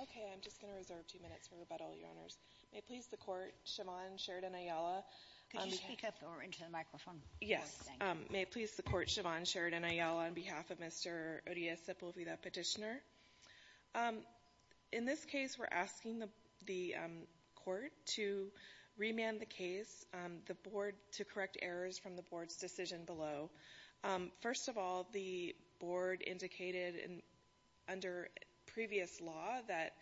Okay, I'm just going to reserve two minutes for rebuttal, Your Honors. May it please the Court, Siobhan Sheridan-Ayala on behalf of Mr. Urias-Sepulveda, petitioner. In this case, we're asking the court to remand the case, the board, to correct errors from the board's decision below. First of all, the board indicated under previous law that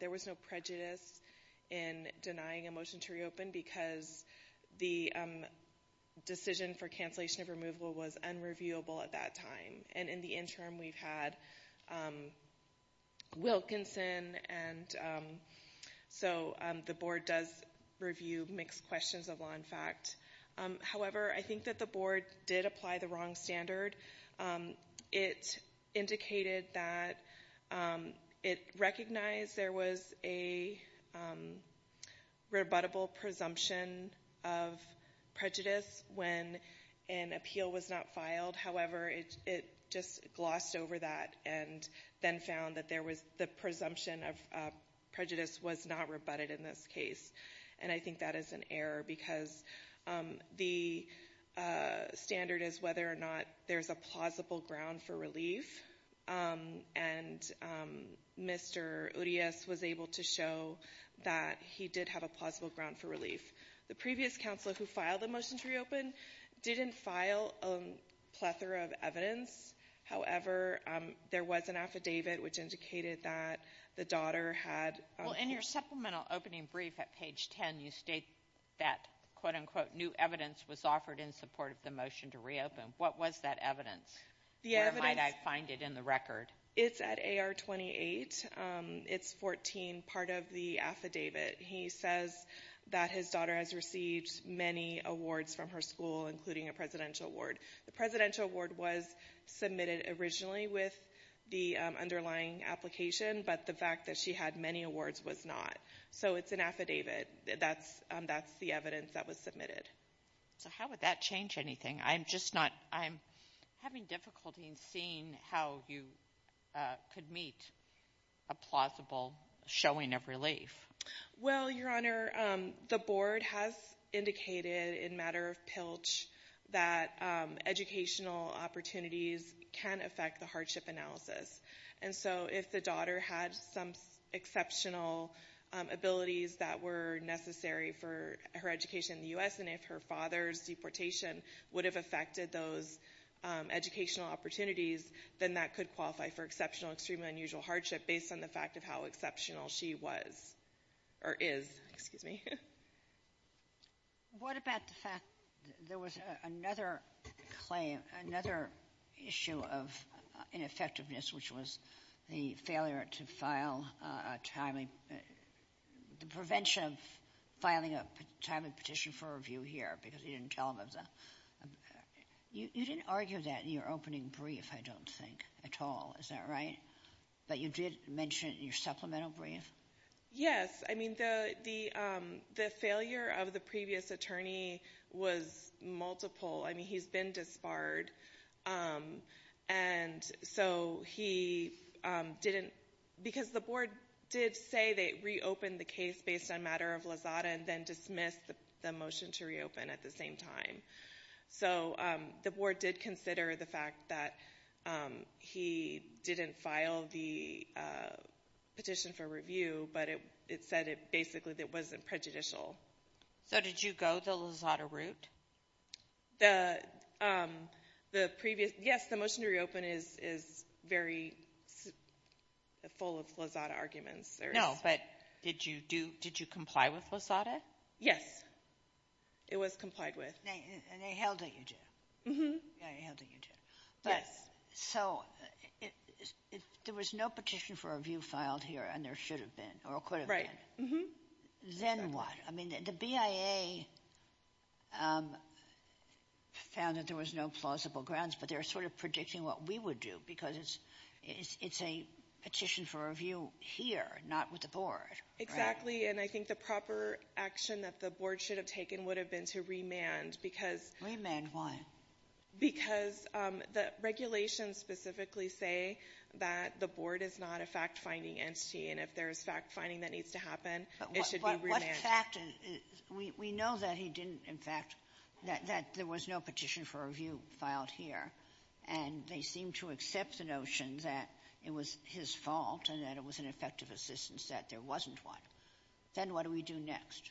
there was no prejudice in denying a motion to reopen because the decision for cancellation of removal was unreviewable at that time. And in the interim, we've had Wilkinson, and so the board does review mixed questions of law and fact. However, I think that the board did apply the wrong standard. It indicated that it recognized there was a rebuttable presumption of prejudice when an appeal was not filed. However, it just glossed over that and then found that the presumption of prejudice was not rebutted in this case. And I think that is an error because the standard is whether or not there's a plausible ground for relief. And Mr. Urias was able to show that he did have a plausible ground for relief. The previous counselor who filed the motion to reopen didn't file a plethora of evidence. However, there was an affidavit which indicated that the daughter had— Well, in your supplemental opening brief at page 10, you state that, quote-unquote, new evidence was offered in support of the motion to reopen. What was that evidence? Where might I find it in the record? It's at AR-28. It's 14, part of the affidavit. He says that his daughter has received many awards from her school, including a presidential award. The presidential award was submitted originally with the underlying application, but the fact that she had many awards was not. So it's an affidavit. That's the evidence that was submitted. So how would that change anything? I'm just not—I'm having difficulty in seeing how you could meet a plausible showing of relief. Well, Your Honor, the board has indicated in matter of pilch that educational opportunities can affect the hardship analysis. And so if the daughter had some exceptional abilities that were necessary for her education in the U.S., and if her father's deportation would have affected those educational opportunities, then that could qualify for exceptional, extremely unusual hardship based on the fact of how exceptional she was or is. Excuse me. What about the fact there was another claim, another issue of ineffectiveness, which was the failure to file a timely—the prevention of filing a timely petition for review here because he didn't tell them of the— You didn't argue that in your opening brief, I don't think, at all. Is that right? But you did mention it in your supplemental brief. Yes. I mean, the failure of the previous attorney was multiple. I mean, he's been disbarred. And so he didn't—because the board did say they reopened the case based on matter of lazada and then dismissed the motion to reopen at the same time. So the board did consider the fact that he didn't file the petition for review, but it said it basically that it wasn't prejudicial. So did you go the lazada route? The previous—yes, the motion to reopen is very full of lazada arguments. No, but did you comply with lazada? Yes. It was complied with. And they held that you did. Yes. So if there was no petition for review filed here and there should have been or could have been, then what? I mean, the BIA found that there was no plausible grounds, but they were sort of predicting what we would do because it's a petition for review here, not with the board. Exactly. And I think the proper action that the board should have taken would have been to remand because— Remand why? Because the regulations specifically say that the board is not a fact-finding entity, and if there is fact-finding that needs to happen, it should be remanded. But what fact? We know that he didn't, in fact, that there was no petition for review filed here, and they seem to accept the notion that it was his fault and that it was an effective assistance that there wasn't one. Then what do we do next?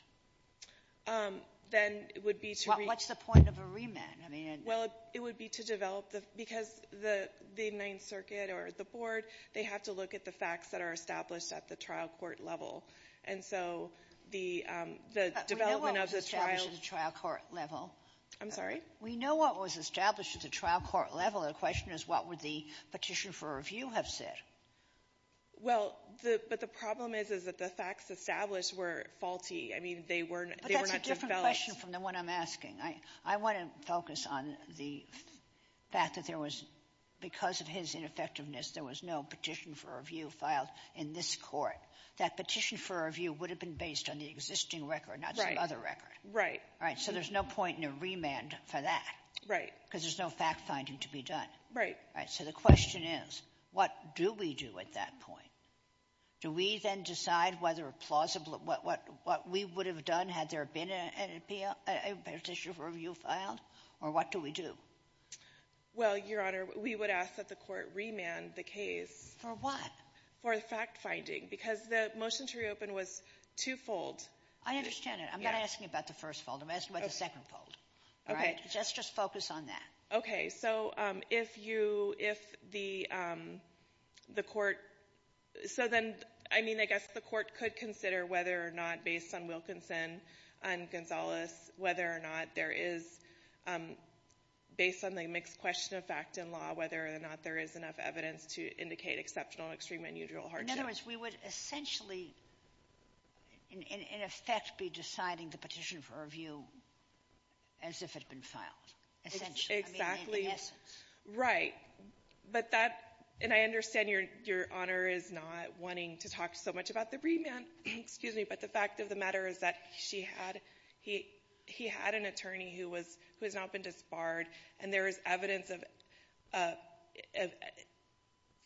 Then it would be to— What's the point of a remand? I mean— Well, it would be to develop the — because the Ninth Circuit or the board, they have to look at the facts that are established at the trial court level. And so the development of the trial— We know what was established at the trial court level. I'm sorry? We know what was established at the trial court level. The question is what would the petition for review have said. Well, the — but the problem is, is that the facts established were faulty. I mean, they were not developed. But that's a different question from the one I'm asking. I want to focus on the fact that there was — because of his ineffectiveness, there was no petition for review filed in this Court. That petition for review would have been based on the existing record, not some other record. Right. So there's no point in a remand for that. Right. Because there's no fact-finding to be done. Right. Right. So the question is, what do we do at that point? Do we then decide whether a plausible — what we would have done had there been a petition for review filed? Or what do we do? Well, Your Honor, we would ask that the Court remand the case. For what? For fact-finding. Because the motion to reopen was twofold. I understand it. I'm not asking about the first fold. I'm asking about the second fold. Okay. Let's just focus on that. Okay. So if you — if the Court — so then, I mean, I guess the Court could consider whether or not, based on Wilkinson and Gonzales, whether or not there is, based on the mixed question of fact and law, whether or not there is enough evidence to indicate exceptional, extreme, and unusual hardship. In other words, we would essentially, in effect, be deciding the petition for review as if it had been filed. Essentially. Exactly. I mean, in essence. Right. But that — and I understand Your Honor is not wanting to talk so much about the remand. Excuse me. But the fact of the matter is that she had — he had an attorney who was — who has not been disbarred. And there is evidence of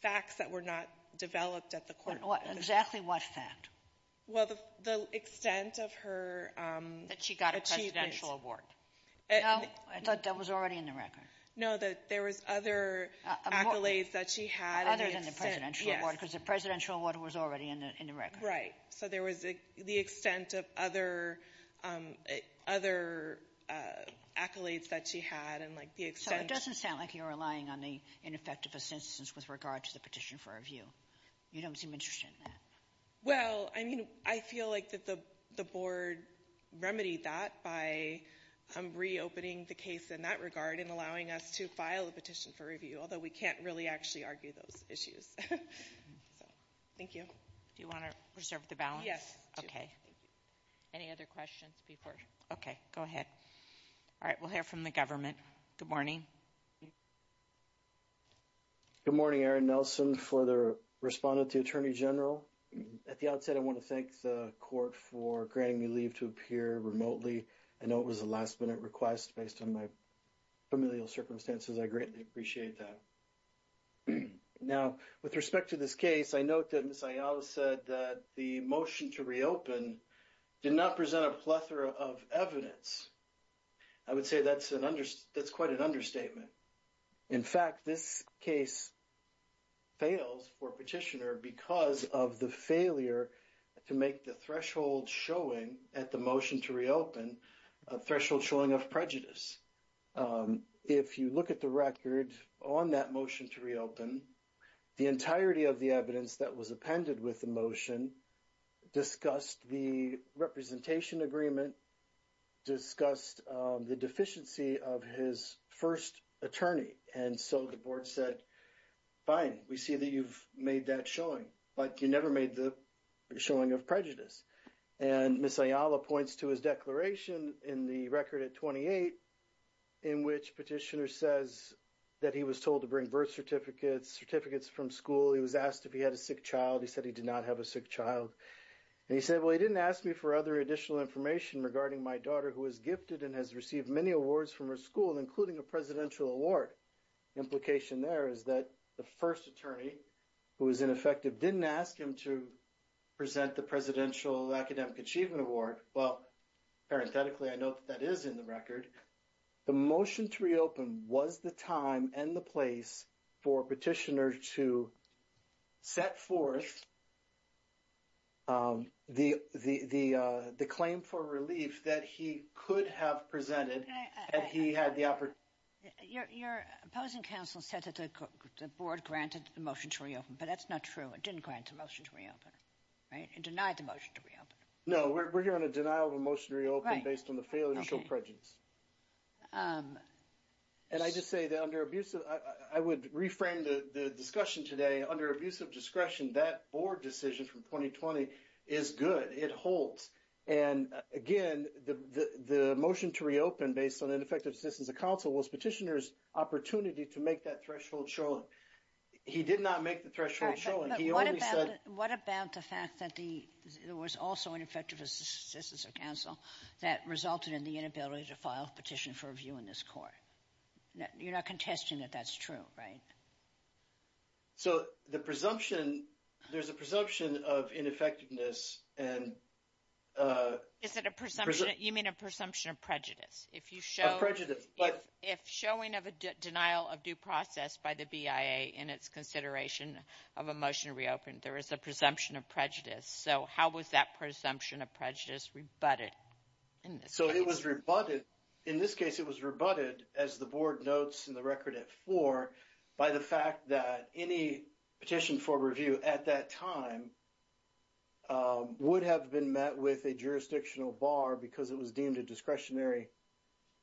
facts that were not developed at the court. Exactly what fact? Well, the extent of her achievements. That she got a presidential award. No. I thought that was already in the record. No, that there was other accolades that she had. Other than the presidential award. Yes. Because the presidential award was already in the record. Right. So there was the extent of other — other accolades that she had and, like, the extent — So it doesn't sound like you're relying on the ineffective assistance with regard to the petition for review. You don't seem interested in that. Well, I mean, I feel like that the board remedied that by reopening the case in that regard and allowing us to file a petition for review. Although we can't really actually argue those issues. So, thank you. Do you want to reserve the balance? Yes. Okay. Any other questions before — okay, go ahead. All right, we'll hear from the government. Good morning. Good morning, Erin Nelson, for the respondent to the Attorney General. At the outset, I want to thank the court for granting me leave to appear remotely. I know it was a last-minute request based on my familial circumstances. I greatly appreciate that. Now, with respect to this case, I note that Ms. Ayala said that the motion to reopen did not present a plethora of evidence. I would say that's quite an understatement. In fact, this case fails for petitioner because of the failure to make the threshold showing at the motion to reopen a threshold showing of prejudice. If you look at the record on that motion to reopen, the entirety of the evidence that was appended with the motion discussed the representation agreement, discussed the deficiency of his first attorney, and so the board said, fine, we see that you've made that showing, but you never made the showing of prejudice. And Ms. Ayala points to his declaration in the record at 28 in which petitioner says that he was told to bring birth certificates, certificates from school, he was asked if he had a sick child, he said he did not have a sick child. And he said, well, he didn't ask me for other additional information regarding my daughter who was gifted and has received many awards from her school, including a presidential award. Implication there is that the first attorney, who was ineffective, didn't ask him to present the Presidential Academic Achievement Award. Well, parenthetically, I note that that is in the record. The motion to reopen was the time and the place for petitioner to set forth the claim for relief that he could have presented had he had the opportunity. Your opposing counsel said that the board granted the motion to reopen, but that's not true. It didn't grant the motion to reopen. It denied the motion to reopen. No, we're here on a denial of a motion to reopen based on the failure to show prejudice. And I just say that under abusive, I would reframe the discussion today. Under abusive discretion, that board decision from 2020 is good. It holds. And again, the motion to reopen based on ineffective assistance of counsel was petitioner's opportunity to make that threshold shown. He did not make the threshold shown. What about the fact that there was also ineffective assistance of counsel that resulted in the inability to file a petition for review in this court? You're not contesting that that's true, right? So, the presumption, there's a presumption of ineffectiveness. Is it a presumption? You mean a presumption of prejudice? Of prejudice. If showing of a denial of due process by the BIA in its consideration of a motion to reopen, there is a presumption of prejudice. So, how was that presumption of prejudice rebutted in this case? So, it was rebutted. In this case, it was rebutted, as the board notes in the record at four, by the fact that any petition for review at that time would have been met with a jurisdictional bar because it was deemed a discretionary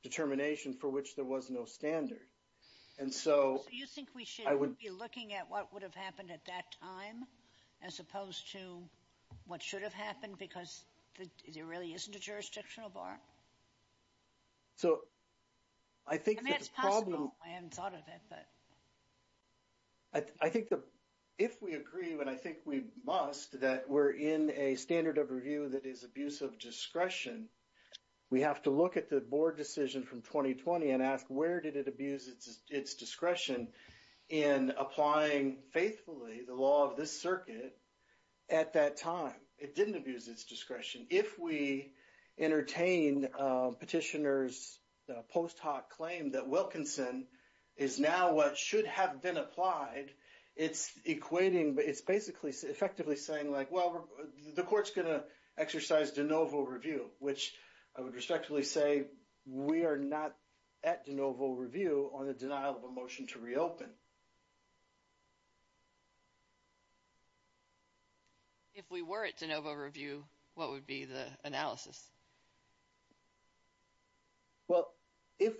determination for which there was no standard. And so... So, you think we should be looking at what would have happened at that time as opposed to what should have happened because there really isn't a jurisdictional bar? So, I think that the problem... I haven't thought of it, but... I think that if we agree, and I think we must, that we're in a standard of review that is abuse of discretion, we have to look at the board decision from 2020 and ask, where did it abuse its discretion in applying faithfully the law of this circuit at that time? It didn't abuse its discretion. If we entertain petitioner's post hoc claim that Wilkinson is now what should have been applied, it's equating... It's basically effectively saying, well, the court's going to exercise de novo review, which I would respectfully say we are not at de novo review on the denial of a motion to reopen. If we were at de novo review, what would be the analysis? Well, if...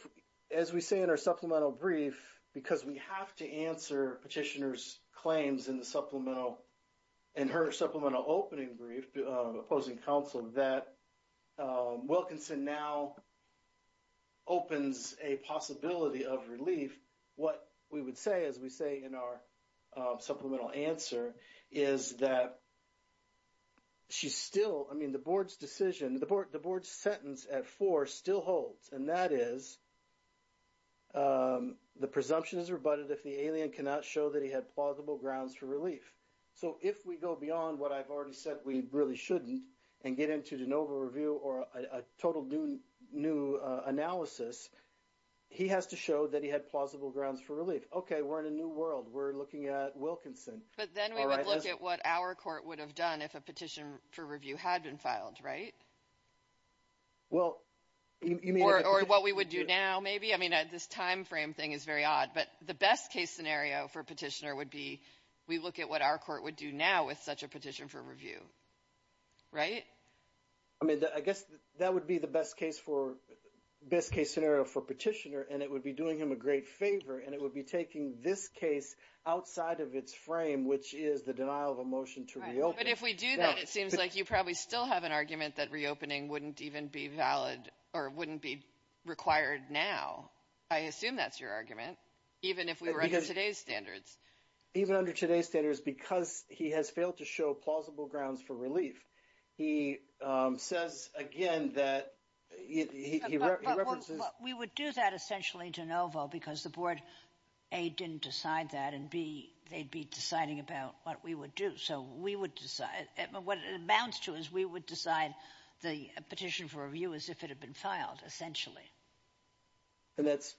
As we say in our supplemental brief, because we have to answer petitioner's claims in the supplemental... In her supplemental opening brief, opposing counsel, that Wilkinson now opens a possibility of relief, what we would say, as we say in our supplemental answer, is that she's still... I mean, the board's decision, the board's sentence at four still holds, and that is the presumption is rebutted if the alien cannot show that he had plausible grounds for relief. So if we go beyond what I've already said we really shouldn't and get into de novo review or a total new analysis, he has to show that he had plausible grounds for relief. Okay, we're in a new world. We're looking at Wilkinson. But then we would look at what our court would have done if a petition for review had been filed, right? Well... Or what we would do now, maybe? I mean, this time frame thing is very odd, but the best case scenario for petitioner would be we look at what our court would do now with such a petition for review, right? I mean, I guess that would be the best case scenario for petitioner, and it would be doing him a great favor, and it would be taking this case outside of its frame, which is the denial of a motion to reopen. But if we do that, it seems like you probably still have an argument that reopening wouldn't even be valid or wouldn't be required now. I assume that's your argument, even if we were under today's standards. Even under today's standards, because he has failed to show plausible grounds for relief, he says again that he references... Well, we would do that essentially de novo because the board, A, didn't decide that, and B, they'd be deciding about what we would do. So we would decide. What it amounts to is we would decide the petition for review as if it had been filed, essentially. And that's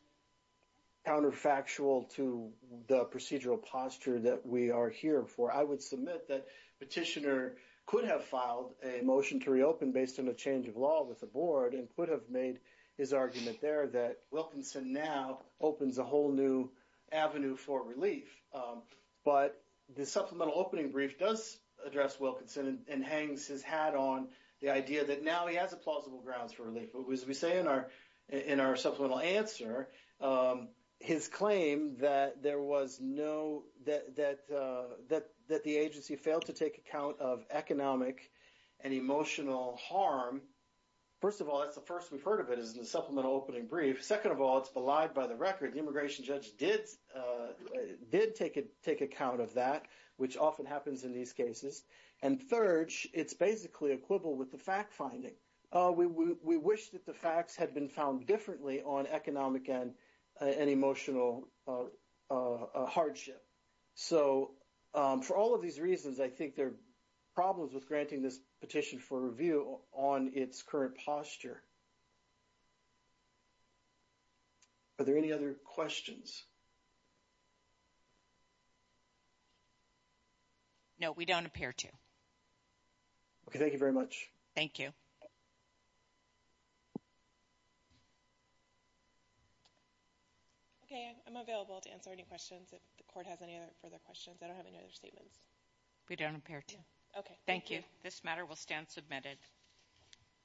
counterfactual to the procedural posture that we are here for. I would submit that petitioner could have filed a motion to reopen based on a change of law with the board and could have made his argument there that Wilkinson now opens a whole new avenue for relief. But the supplemental opening brief does address Wilkinson and hangs his hat on the idea that now he has plausible grounds for relief. But as we say in our supplemental answer, his claim that the agency failed to take account of economic and emotional harm, first of all, that's the first we've heard of it is in the supplemental opening brief. Second of all, it's belied by the record. The immigration judge did take account of that, which often happens in these cases. And third, it's basically equivalent with the fact finding. We wish that the facts had been found differently on economic and emotional hardship. So for all of these reasons, I think there are problems with granting this petition for review on its current posture. Are there any other questions? No, we don't appear to. Okay, thank you very much. Thank you. Okay. I'm available to answer any questions if the court has any further questions. I don't have any other statements. We don't appear to. Okay, thank you. This matter will stand submitted.